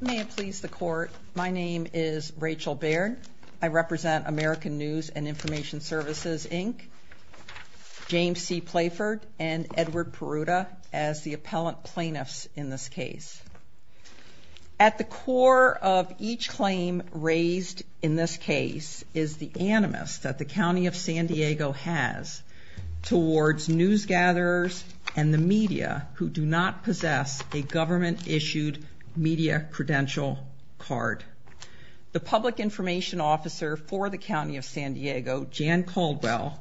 May it please the court, my name is Rachel Baird. I represent American News and Information Services, Inc., James C. Playford, and Edward Peruta as the appellant plaintiffs in this case. At the core of each claim raised in this case is the animus that the County of San Diego has towards news gatherers and the media who do not possess a government issued media credential card. The public information officer for the County of San Diego, Jan Caldwell,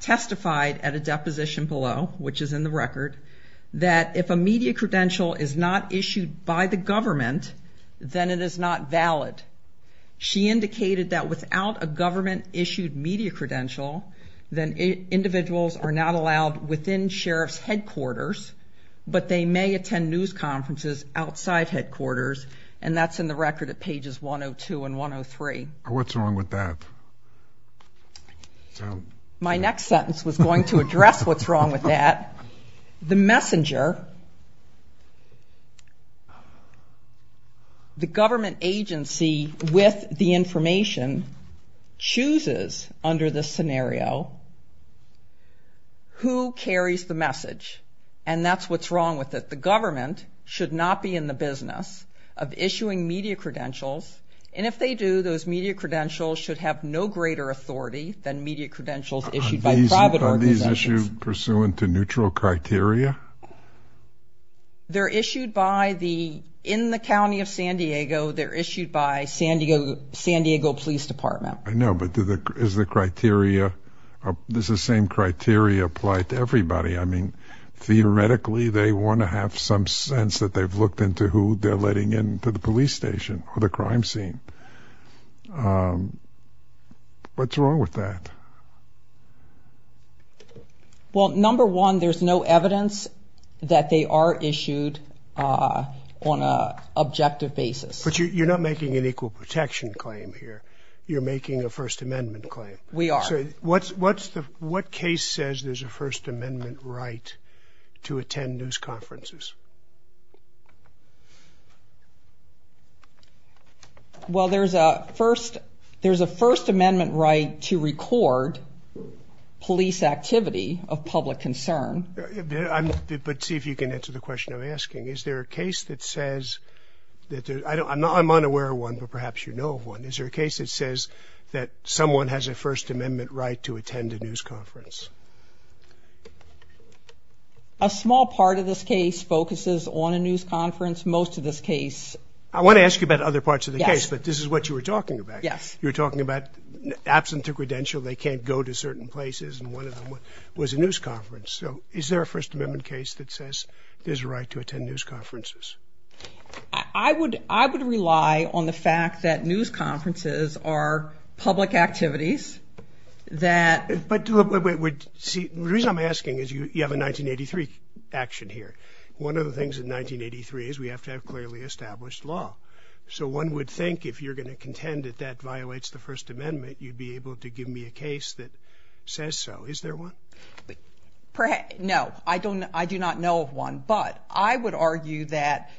testified at a deposition below, which is in the record, that if a media credential is not issued by the government, then it is not valid. She indicated that without a government issued media credential, then individuals are not allowed within sheriff's headquarters, but they may attend news conferences outside headquarters, and that's in the record at pages 102 and 103. What's wrong with that? My next sentence was going to address what's wrong with that. The messenger, the government agency with the information, chooses under this scenario who carries the message, and that's what's wrong with it. The message is that the government should not be in the business of issuing media credentials, and if they do, those media credentials should have no greater authority than media credentials issued by private organizations. Are these issued pursuant to neutral criteria? They're issued by the, in the County of San Diego, they're issued by San Diego Police Department. I know, but is the criteria, does the same criteria apply to everybody? I mean, theoretically, they want to have some sense that they've looked into who they're letting in to the police station or the crime scene. What's wrong with that? Well, number one, there's no evidence that they are issued on an objective basis. But you're not making an equal protection claim here. You're making a First Amendment claim. We are. What case says there's a First Amendment right to attend news conferences? Well, there's a First Amendment right to record police activity of public concern. Is there a case that says that there's, I'm unaware of one, but perhaps you know of one. Is there a case that says that someone has a First Amendment right to attend a news conference? A small part of this case focuses on a news conference. Most of this case. I want to ask you about other parts of the case, but this is what you were talking about. Yes. You were talking about absent a credential, they can't go to certain places, and one of them was a news conference. So is there a First Amendment case that says there's a right to attend news conferences? I would rely on the fact that news conferences are public activities that. But the reason I'm asking is you have a 1983 action here. One of the things in 1983 is we have to have clearly established law. So one would think if you're going to contend that that violates the First Amendment, you'd be able to give me a case that says so. Is there one? No, I do not know of one. But I would argue that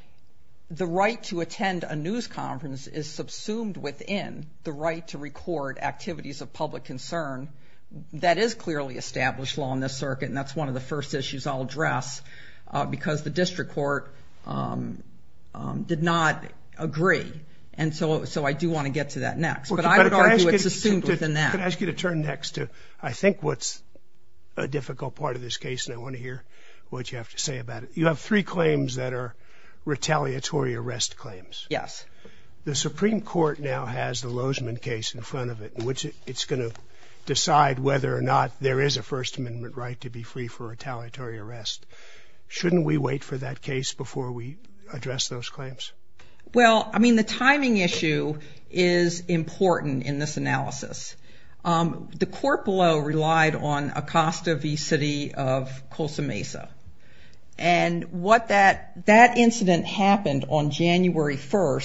the right to attend a news conference is subsumed within the right to record activities of public concern. That is clearly established law in this circuit, and that's one of the first issues I'll address, because the district court did not agree. And so I do want to get to that next. But I would argue it's assumed within that. I could ask you to turn next to I think what's a difficult part of this case, and I want to hear what you have to say about it. You have three claims that are retaliatory arrest claims. Yes. The Supreme Court now has the Lozman case in front of it, in which it's going to decide whether or not there is a First Amendment right to be free for retaliatory arrest. Shouldn't we wait for that case before we address those claims? Well, I mean, the timing issue is important in this analysis. The court below relied on Acosta v. City of Colsa Mesa. And that incident happened on January 1,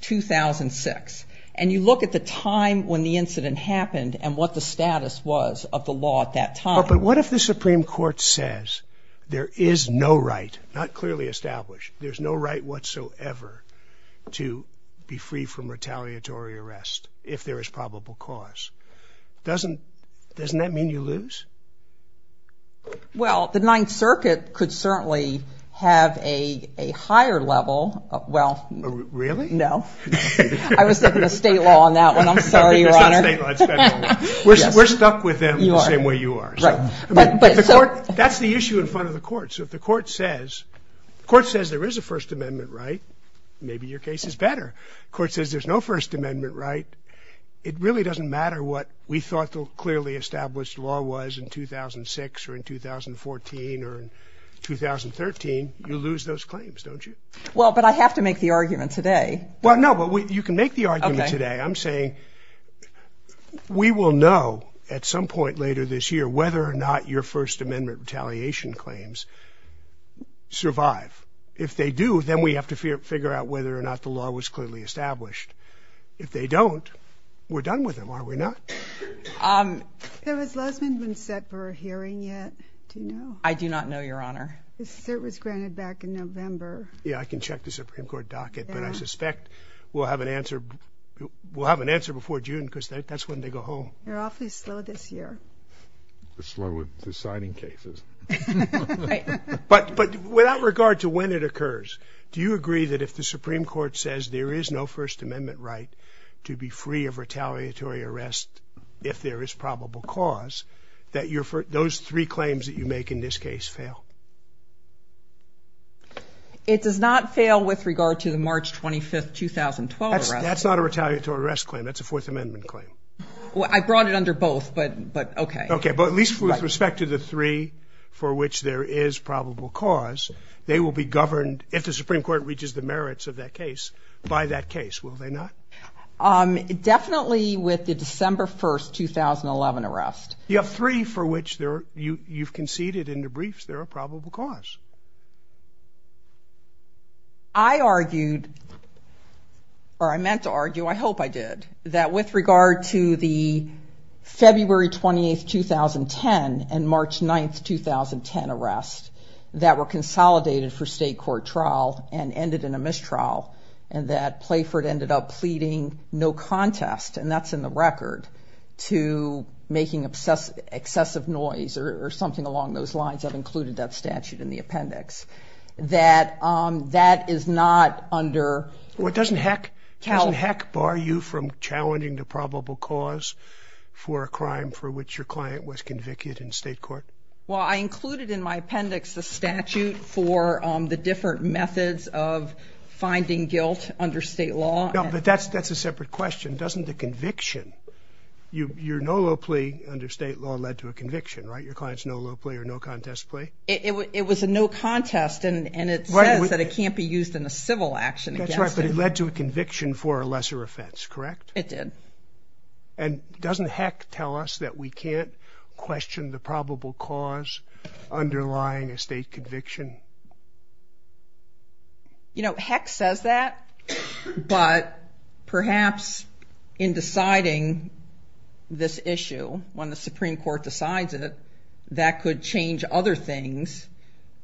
2006. And you look at the time when the incident happened and what the status was of the law at that time. But what if the Supreme Court says there is no right, not clearly established, there's no right whatsoever to be free from retaliatory arrest if there is probable cause? Doesn't that mean you lose? Well, the Ninth Circuit could certainly have a higher level. Really? No. I was thinking of state law on that one. I'm sorry, Your Honor. It's not state law. It's federal law. That's the issue in front of the court. So if the court says there is a First Amendment right, maybe your case is better. If the court says there's no First Amendment right, it really doesn't matter what we thought the clearly established law was in 2006 or in 2014 or in 2013. You lose those claims, don't you? Well, but I have to make the argument today. Well, no, but you can make the argument today. I'm saying we will know at some point later this year whether or not your First Amendment retaliation claims survive. If they do, then we have to figure out whether or not the law was clearly established. If they don't, we're done with them, are we not? Has Lesmond been set for a hearing yet? Do you know? I do not know, Your Honor. It was granted back in November. Yeah, I can check the Supreme Court docket, but I suspect we'll have an answer before June because that's when they go home. They're awfully slow this year. They're slow with the signing cases. But without regard to when it occurs, do you agree that if the Supreme Court says there is no First Amendment right to be free of retaliatory arrest if there is probable cause, that those three claims that you make in this case fail? It does not fail with regard to the March 25, 2012 arrest. That's not a retaliatory arrest claim. That's a Fourth Amendment claim. I brought it under both, but okay. Okay, but at least with respect to the three for which there is probable cause, they will be governed if the Supreme Court reaches the merits of that case by that case, will they not? Definitely with the December 1, 2011 arrest. You have three for which you've conceded in the briefs there are probable cause. I argued, or I meant to argue, I hope I did, that with regard to the February 28, 2010, and March 9, 2010 arrest that were consolidated for state court trial and ended in a mistrial and that Playford ended up pleading no contest, and that's in the record, to making excessive noise or something along those lines. I've included that statute in the appendix. Doesn't Heck bar you from challenging the probable cause for a crime for which your client was convicted in state court? Well, I included in my appendix the statute for the different methods of finding guilt under state law. No, but that's a separate question. Doesn't the conviction, your no low plea under state law led to a conviction, right? Your client's no low plea or no contest plea? It was a no contest, and it says that it can't be used in a civil action against him. That's right, but it led to a conviction for a lesser offense, correct? It did. And doesn't Heck tell us that we can't question the probable cause underlying a state conviction? Heck says that, but perhaps in deciding this issue, when the Supreme Court decides it, that could change other things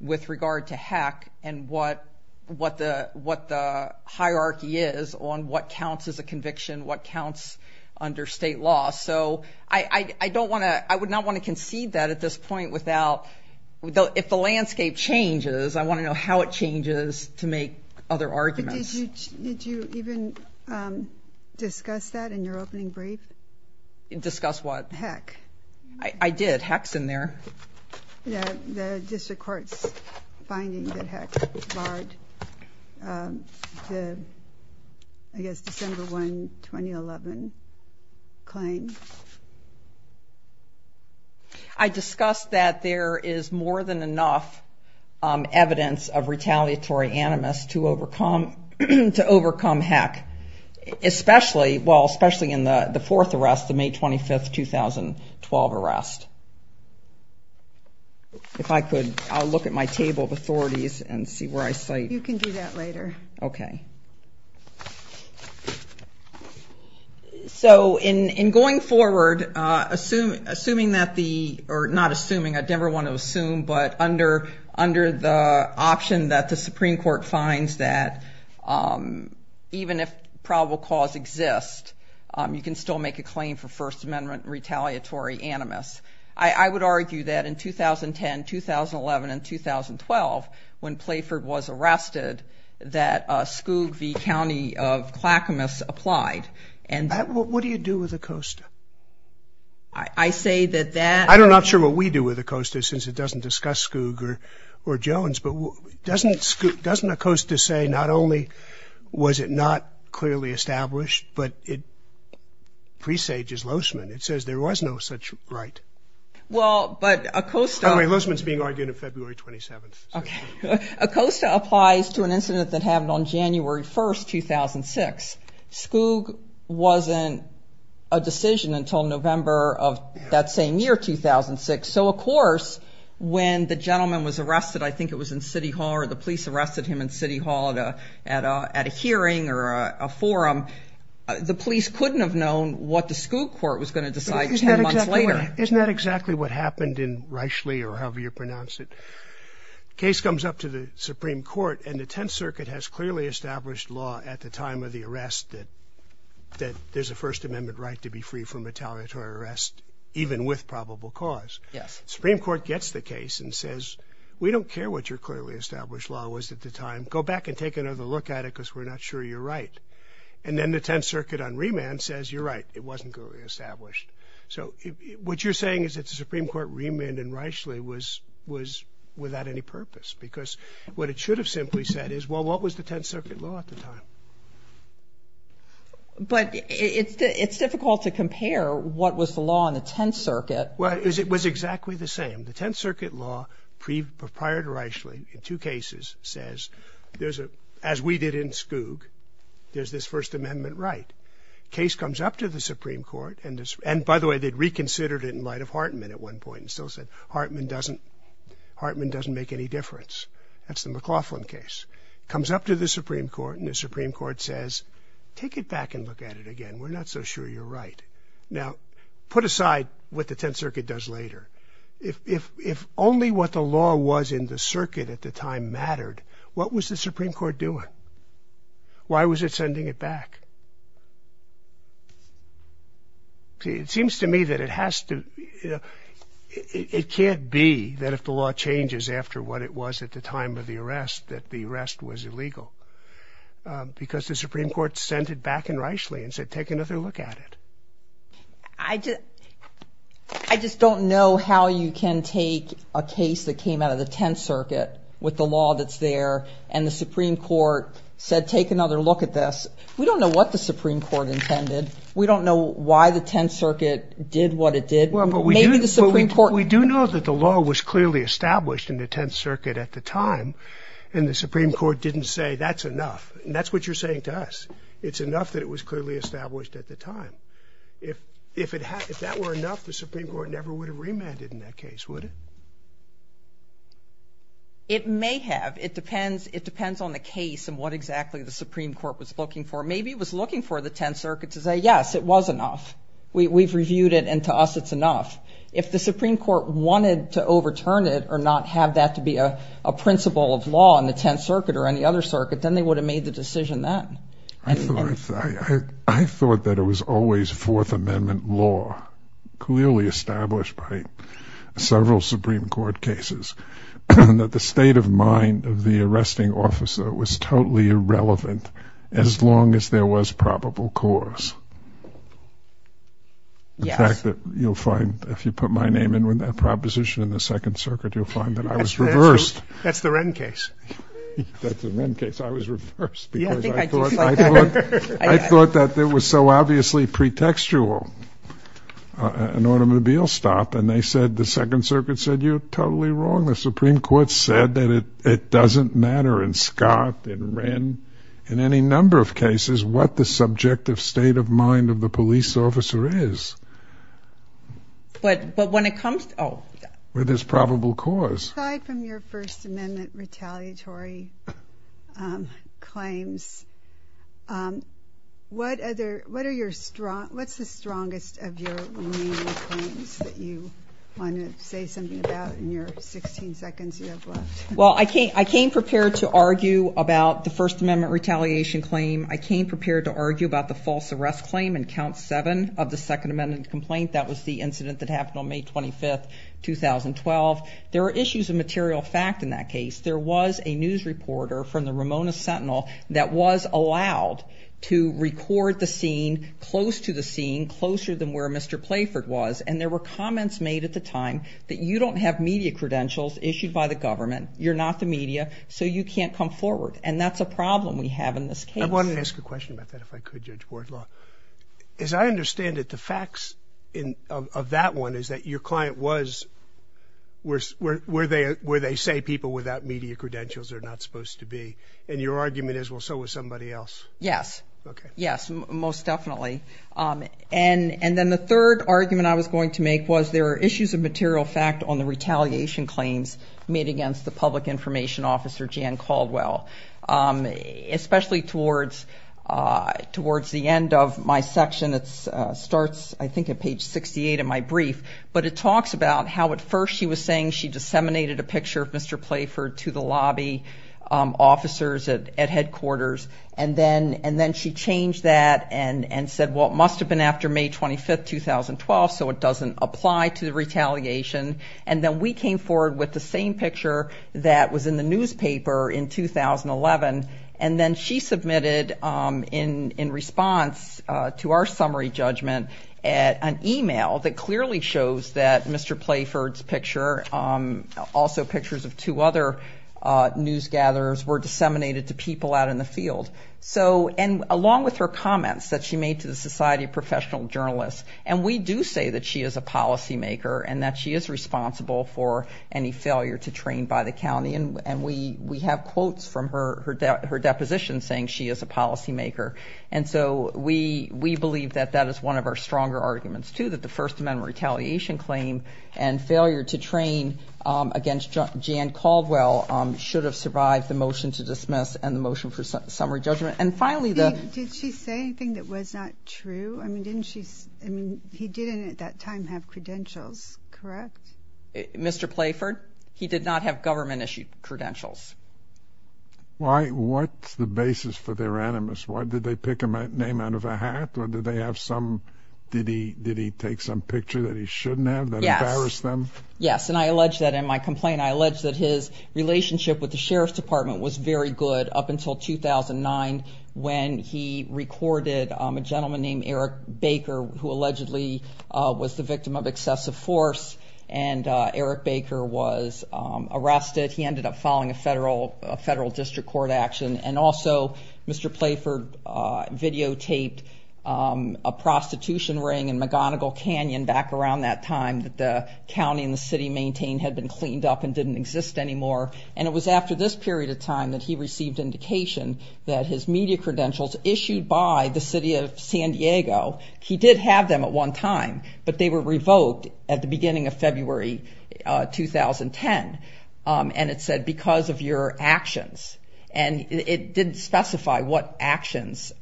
with regard to Heck and what the hierarchy is on what counts as a conviction, what counts under state law. So I would not want to concede that at this point without, if the landscape changes, I want to know how it changes to make other arguments. Did you even discuss that in your opening brief? Discuss what? Heck. I did. Heck's in there. The district court's finding that Heck barred the, I guess, December 1, 2011 claim. I discussed that there is more than enough evidence of retaliatory animus to overcome Heck, especially, well, especially in the fourth arrest, the May 25, 2012 arrest. If I could, I'll look at my table of authorities and see where I cite. You can do that later. Okay. So in going forward, assuming that the, or not assuming, I'd never want to assume, but under the option that the Supreme Court finds that even if probable cause exists, you can still make a claim for First Amendment retaliatory animus. I would argue that in 2010, 2011, and 2012, when Playford was arrested, that Skoog v. County of Clackamas applied. What do you do with Acosta? I say that that. I'm not sure what we do with Acosta since it doesn't discuss Skoog or Jones, but doesn't Acosta say not only was it not clearly established, but it presages Loessman. It says there was no such right. Well, but Acosta. Loessman's being argued on February 27th. Okay. Acosta applies to an incident that happened on January 1, 2006. Skoog wasn't a decision until November of that same year, 2006. So, of course, when the gentleman was arrested, I think it was in City Hall, or the police arrested him in City Hall at a hearing or a forum, the police couldn't have known what the Skoog court was going to decide 10 months later. Isn't that exactly what happened in Reichle or however you pronounce it? Case comes up to the Supreme Court, and the Tenth Circuit has clearly established law at the time of the arrest that there's a First Amendment right to be free from retaliatory arrest even with probable cause. Yes. The Supreme Court gets the case and says, we don't care what your clearly established law was at the time. Go back and take another look at it because we're not sure you're right. And then the Tenth Circuit on remand says, you're right, it wasn't clearly established. So what you're saying is that the Supreme Court remanded Reichle was without any purpose because what it should have simply said is, well, what was the Tenth Circuit law at the time? But it's difficult to compare what was the law in the Tenth Circuit. Well, it was exactly the same. The Tenth Circuit law prior to Reichle in two cases says, as we did in Skoog, there's this First Amendment right. Case comes up to the Supreme Court, and by the way, they'd reconsidered it in light of Hartman at one point and still said, Hartman doesn't make any difference. That's the McLaughlin case. Comes up to the Supreme Court, and the Supreme Court says, take it back and look at it again. We're not so sure you're right. Now, put aside what the Tenth Circuit does later. If only what the law was in the circuit at the time mattered, what was the Supreme Court doing? Why was it sending it back? It seems to me that it has to – it can't be that if the law changes after what it was at the time of the arrest, that the arrest was illegal, because the Supreme Court sent it back in Reichle and said, take another look at it. I just don't know how you can take a case that came out of the Tenth Circuit with the law that's there, and the Supreme Court said, take another look at this. We don't know what the Supreme Court intended. We don't know why the Tenth Circuit did what it did. Well, but we do know that the law was clearly established in the Tenth Circuit at the time, and the Supreme Court didn't say, that's enough. And that's what you're saying to us. It's enough that it was clearly established at the time. If that were enough, the Supreme Court never would have remanded in that case, would it? It may have. It depends on the case and what exactly the Supreme Court was looking for. Maybe it was looking for the Tenth Circuit to say, yes, it was enough. We've reviewed it, and to us it's enough. If the Supreme Court wanted to overturn it or not have that to be a principle of law in the Tenth Circuit or any other circuit, then they would have made the decision then. I thought that it was always Fourth Amendment law, clearly established by several Supreme Court cases, that the state of mind of the arresting officer was totally irrelevant as long as there was probable cause. The fact that you'll find, if you put my name in with that proposition in the Second Circuit, you'll find that I was reversed. That's the Wren case. That's the Wren case. I was reversed because I thought that it was so obviously pretextual. An automobile stop, and they said, the Second Circuit said, you're totally wrong. The Supreme Court said that it doesn't matter in Scott, in Wren, in any number of cases, what the subjective state of mind of the police officer is. But when it comes to, oh. With his probable cause. Aside from your First Amendment retaliatory claims, what's the strongest of your remaining claims that you want to say something about in your 16 seconds you have left? Well, I came prepared to argue about the First Amendment retaliation claim. I came prepared to argue about the false arrest claim in Count 7 of the Second Amendment complaint. That was the incident that happened on May 25, 2012. There were issues of material fact in that case. There was a news reporter from the Ramona Sentinel that was allowed to record the scene close to the scene, closer than where Mr. Playford was. And there were comments made at the time that you don't have media credentials issued by the government. You're not the media, so you can't come forward. And that's a problem we have in this case. I wanted to ask a question about that, if I could, Judge Bordlaw. As I understand it, the facts of that one is that your client was, where they say people without media credentials are not supposed to be. And your argument is, well, so was somebody else. Yes. Okay. Yes, most definitely. And then the third argument I was going to make was there are issues of material fact on the retaliation claims made against the public information officer, Jan Caldwell, especially towards the end of my section. It starts, I think, at page 68 of my brief. But it talks about how at first she was saying she disseminated a picture of Mr. Playford to the lobby officers at headquarters. And then she changed that and said, well, it must have been after May 25, 2012, so it doesn't apply to the retaliation. And then we came forward with the same picture that was in the newspaper in 2011. And then she submitted, in response to our summary judgment, an e-mail that clearly shows that Mr. Playford's picture, also pictures of two other newsgatherers, were disseminated to people out in the field. And along with her comments that she made to the Society of Professional Journalists. And we do say that she is a policymaker and that she is responsible for any failure to train by the county. And we have quotes from her deposition saying she is a policymaker. And so we believe that that is one of our stronger arguments, too, that the First Amendment retaliation claim and failure to train against Jan Caldwell should have survived the motion to dismiss and the motion for summary judgment. And finally the – Did she say anything that was not true? I mean, didn't she – I mean, he didn't at that time have credentials, correct? Mr. Playford, he did not have government-issued credentials. Why – what's the basis for their animus? Why did they pick a name out of a hat? Or did they have some – did he take some picture that he shouldn't have that embarrassed them? Yes. Yes, and I allege that in my complaint, I allege that his relationship with the Sheriff's Department was very good up until 2009 when he recorded a gentleman named Eric Baker, who allegedly was the victim of excessive force. And Eric Baker was arrested. He ended up filing a federal district court action. And also Mr. Playford videotaped a prostitution ring in McGonigal Canyon back around that time that the county and the city maintained had been cleaned up and didn't exist anymore. And it was after this period of time that he received indication that his media credentials issued by the city of San Diego – he did have them at one time, but they were revoked at the beginning of February 2010. And it said, because of your actions. And it didn't specify what actions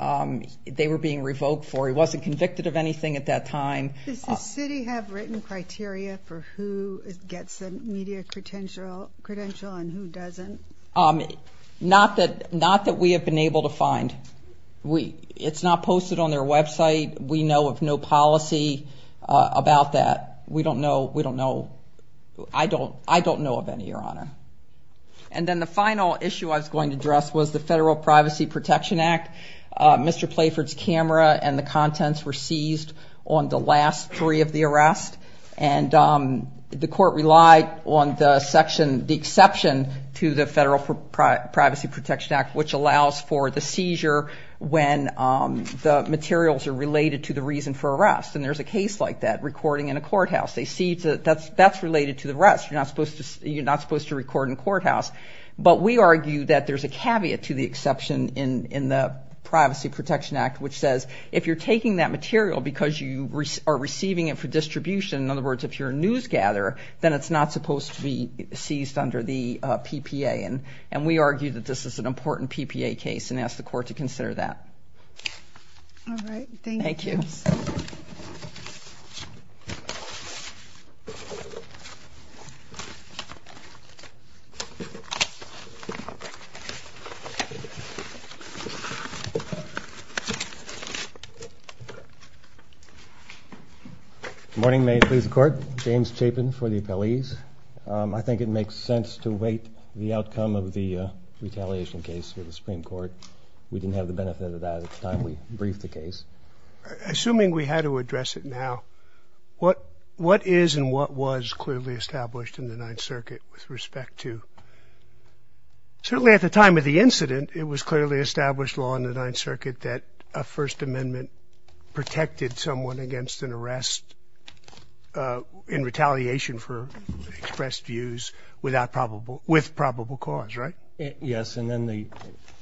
they were being revoked for. He wasn't convicted of anything at that time. Does the city have written criteria for who gets a media credential and who doesn't? Not that we have been able to find. It's not posted on their website. We know of no policy about that. We don't know – we don't know – I don't know of any, Your Honor. And then the final issue I was going to address was the Federal Privacy Protection Act. Mr. Playford's camera and the contents were seized on the last three of the arrests. And the court relied on the section – the exception to the Federal Privacy Protection Act, which allows for the seizure when the materials are related to the reason for arrest. And there's a case like that recording in a courthouse. That's related to the arrest. You're not supposed to record in a courthouse. But we argue that there's a caveat to the exception in the Privacy Protection Act, which says if you're taking that material because you are receiving it for distribution, in other words, if you're a news gatherer, then it's not supposed to be seized under the PPA. And we argue that this is an important PPA case and ask the court to consider that. All right. Thank you. Thank you. Thank you. Good morning. May it please the Court. James Chapin for the appellees. I think it makes sense to wait the outcome of the retaliation case for the Supreme Court. We didn't have the benefit of that at the time we briefed the case. Assuming we had to address it now, what is and what was clearly established in the Ninth Circuit with respect to? Certainly at the time of the incident, it was clearly established law in the Ninth Circuit that a First Amendment protected someone against an arrest in retaliation for expressed views with probable cause, right? Yes. And then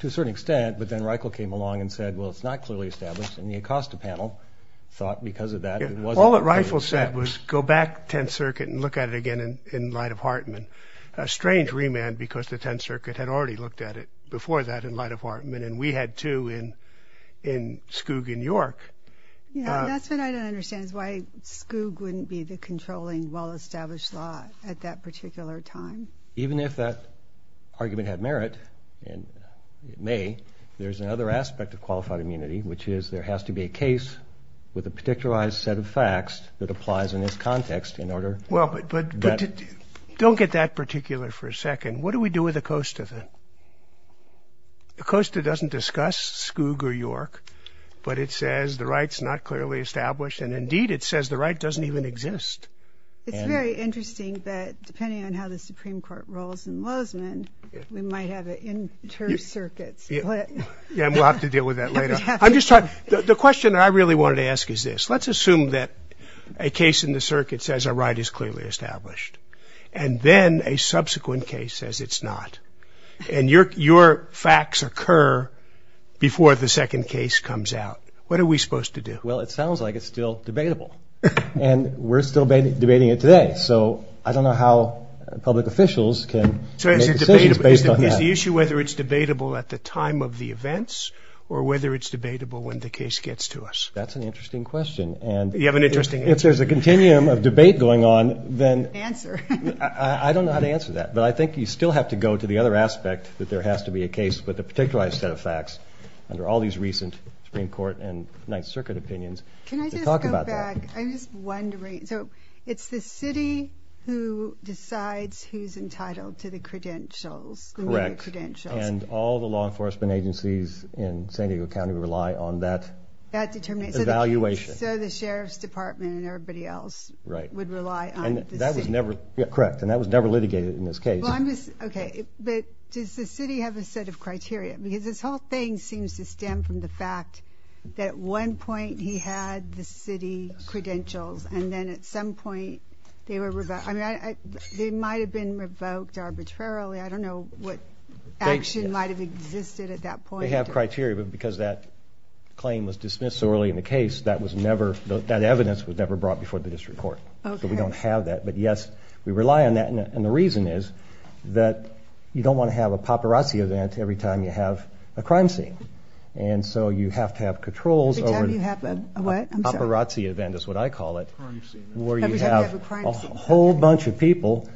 to a certain extent, but then Reichel came along and said, well, it's not clearly established, and the Acosta panel thought because of that it wasn't. All that Reichel said was go back to the Tenth Circuit and look at it again in light of Hartman. A strange remand because the Tenth Circuit had already looked at it before that in light of Hartman, and we had, too, in Skoog in York. Yes. That's what I don't understand is why Skoog wouldn't be the controlling, well-established law at that particular time. Even if that argument had merit, and it may, there's another aspect of qualified immunity, which is there has to be a case with a particularized set of facts that applies in this context in order. Well, but don't get that particular for a second. What do we do with Acosta then? Acosta doesn't discuss Skoog or York, but it says the right's not clearly established, and indeed it says the right doesn't even exist. It's very interesting that depending on how the Supreme Court rolls in Lozman, we might have an inter-circuit split. Yeah, and we'll have to deal with that later. I'm just trying, the question I really wanted to ask is this. Let's assume that a case in the circuit says a right is clearly established, and then a subsequent case says it's not, and your facts occur before the second case comes out. What are we supposed to do? Well, it sounds like it's still debatable, and we're still debating it today. So I don't know how public officials can make decisions based on that. So is the issue whether it's debatable at the time of the events or whether it's debatable when the case gets to us? That's an interesting question, and if there's a continuum of debate going on, then I don't know how to answer that, but I think you still have to go to the other aspect that there has to be a case with a particularized set of facts under all these recent Supreme Court and Ninth Circuit opinions to talk about that. Can I just go back? I'm just wondering. So it's the city who decides who's entitled to the credentials? Correct, and all the law enforcement agencies in San Diego County rely on that evaluation. So the sheriff's department and everybody else would rely on the city? Correct, and that was never litigated in this case. Okay, but does the city have a set of criteria? Because this whole thing seems to stem from the fact that at one point he had the city credentials, and then at some point they were revoked. I mean, they might have been revoked arbitrarily. I don't know what action might have existed at that point. They have criteria, but because that claim was dismissed so early in the case, that evidence was never brought before the district court, so we don't have that. But yes, we rely on that, and the reason is that you don't want to have a paparazzi event every time you have a crime scene. And so you have to have controls over the paparazzi event, is what I call it, where you have a whole bunch of people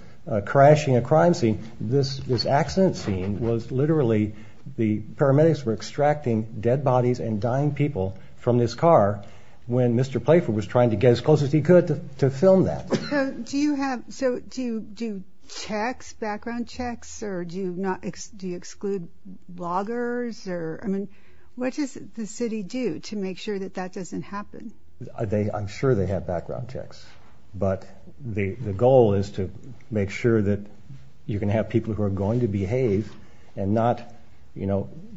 crashing a crime scene. This accident scene was literally the paramedics were extracting dead bodies and dying people from this car when Mr. Playford was trying to get as close as he could to film that. So do you do checks, background checks, or do you exclude bloggers? I mean, what does the city do to make sure that that doesn't happen? I'm sure they have background checks, but the goal is to make sure that you can have people who are going to behave and not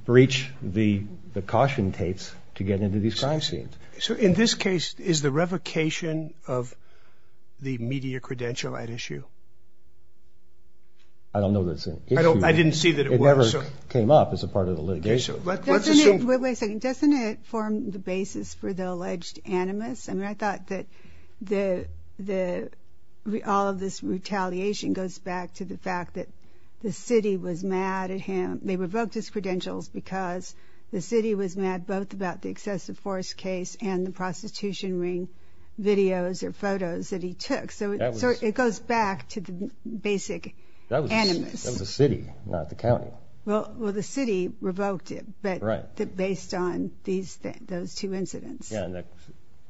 breach the caution tapes to get into these crime scenes. So in this case, is the revocation of the media credential at issue? I don't know that it's an issue. I didn't see that it was. It never came up as a part of the litigation. Wait a second. Doesn't it form the basis for the alleged animus? I mean, I thought that all of this retaliation goes back to the fact that the city was mad at him. They revoked his credentials because the city was mad both about the excessive force case and the prostitution ring videos or photos that he took. So it goes back to the basic animus. That was the city, not the county. Well, the city revoked it, but based on those two incidents. Yeah, and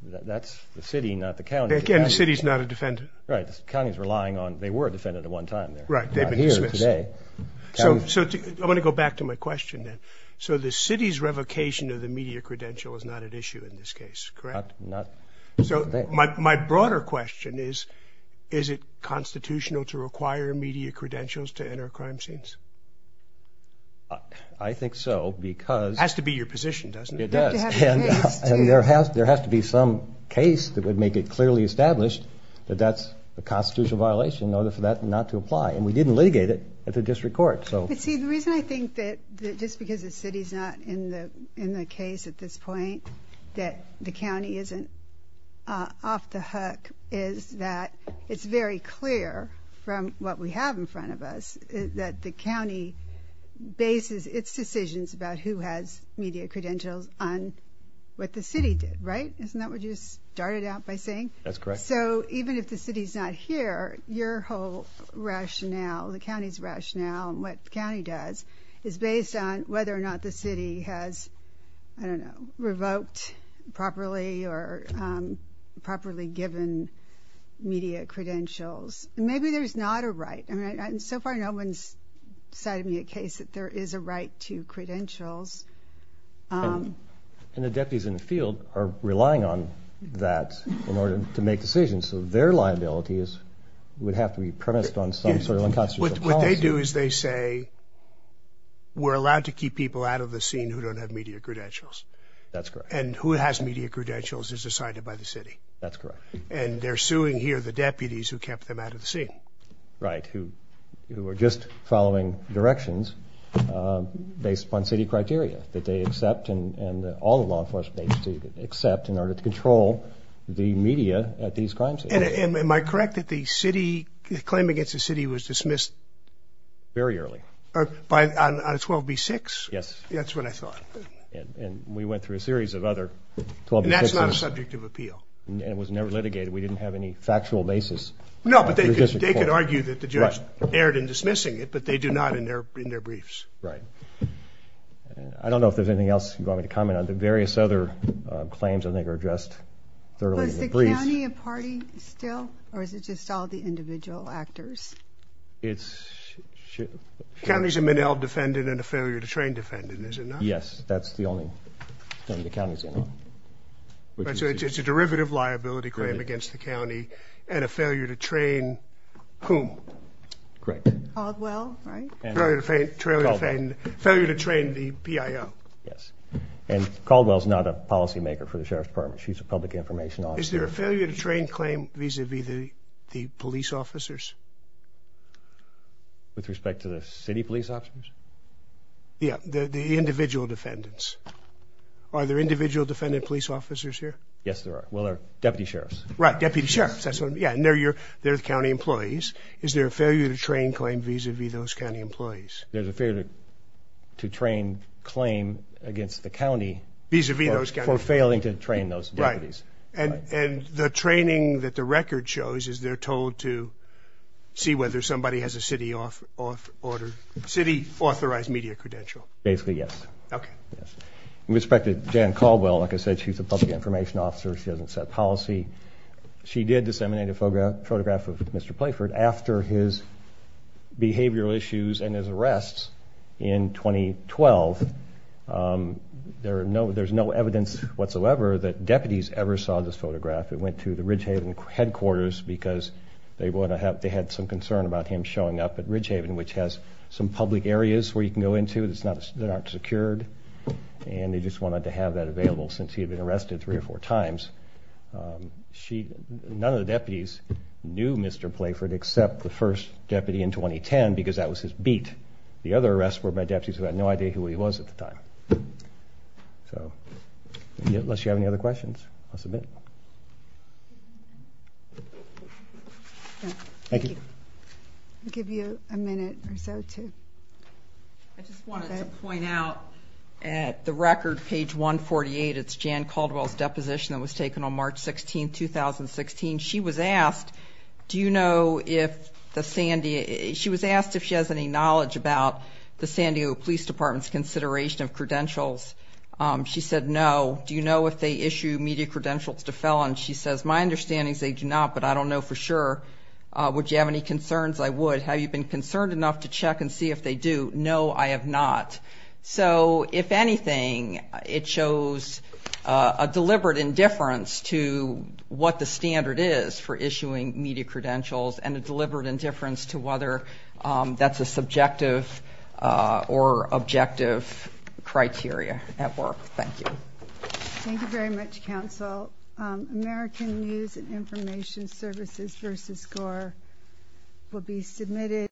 that's the city, not the county. Again, the city's not a defendant. Right. The county's relying on – they were a defendant at one time. Right. They've been dismissed. Not here today. So I want to go back to my question then. So the city's revocation of the media credential is not at issue in this case, correct? So my broader question is, is it constitutional to require media credentials to enter crime scenes? I think so because – It has to be your position, doesn't it? It does. And there has to be some case that would make it clearly established that that's a constitutional violation in order for that not to apply. And we didn't litigate it at the district court. But see, the reason I think that just because the city's not in the case at this point, that the county isn't off the hook is that it's very clear from what we have in front of us that the county bases its decisions about who has media credentials on what the city did, right? Isn't that what you started out by saying? That's correct. So even if the city's not here, your whole rationale, the county's rationale, and what the county does is based on whether or not the city has, I don't know, revoked properly or properly given media credentials. Maybe there's not a right. So far no one's cited me a case that there is a right to credentials. And the deputies in the field are relying on that in order to make decisions. So their liability would have to be premised on some sort of unconstitutional policy. What they do is they say we're allowed to keep people out of the scene who don't have media credentials. That's correct. And who has media credentials is decided by the city. That's correct. And they're suing here the deputies who kept them out of the scene. Right, who are just following directions based upon city criteria that they accept and all the law enforcement agencies accept in order to control the media at these crime scenes. And am I correct that the city, the claim against the city was dismissed? Very early. On 12b-6? Yes. That's what I thought. And we went through a series of other 12b-6s. And that's not a subject of appeal. And it was never litigated. We didn't have any factual basis. No, but they could argue that the judge erred in dismissing it, but they do not in their briefs. Right. I don't know if there's anything else you want me to comment on. The various other claims, I think, are addressed thoroughly in the brief. Was the county a party still, or is it just all the individual actors? It's... The county's a Minnell defendant and a failure to train defendant, is it not? Yes, that's the only thing the county's in on. So it's a derivative liability claim against the county and a failure to train whom? Caldwell, right? Failure to train the PIO. Yes. And Caldwell's not a policymaker for the Sheriff's Department. She's a public information officer. Is there a failure to train claim vis-à-vis the police officers? With respect to the city police officers? Yeah, the individual defendants. Are there individual defendant police officers here? Yes, there are. Well, there are deputy sheriffs. Right, deputy sheriffs. Yeah, and they're the county employees. Is there a failure to train claim vis-à-vis those county employees? There's a failure to train claim against the county for failing to train those deputies. Right. And the training that the record shows is they're told to see whether somebody has a city-authorized media credential. Basically, yes. Okay. With respect to Jan Caldwell, like I said, she's a public information officer. She doesn't set policy. She did disseminate a photograph of Mr. Playford after his behavioral issues and his arrests in 2012. There's no evidence whatsoever that deputies ever saw this photograph. It went to the Ridgehaven headquarters because they had some concern about him showing up at Ridgehaven, which has some public areas where you can go into that aren't secured, and they just wanted to have that available since he had been arrested three or four times. None of the deputies knew Mr. Playford except the first deputy in 2010 because that was his beat. The other arrests were by deputies who had no idea who he was at the time. So unless you have any other questions, I'll submit. Thank you. I'll give you a minute or so too. I just wanted to point out at the record, page 148, it's Jan Caldwell's deposition that was taken on March 16, 2016. She was asked if she has any knowledge about the San Diego Police Department's consideration of credentials. She said no. Do you know if they issue media credentials to felons? She says, my understanding is they do not, but I don't know for sure. Would you have any concerns? I would. Have you been concerned enough to check and see if they do? No, I have not. So if anything, it shows a deliberate indifference to what the standard is for issuing media credentials and a deliberate indifference to whether that's a subjective or objective criteria at work. Thank you. Thank you very much, counsel. American News and Information Services v. Gore will be submitted.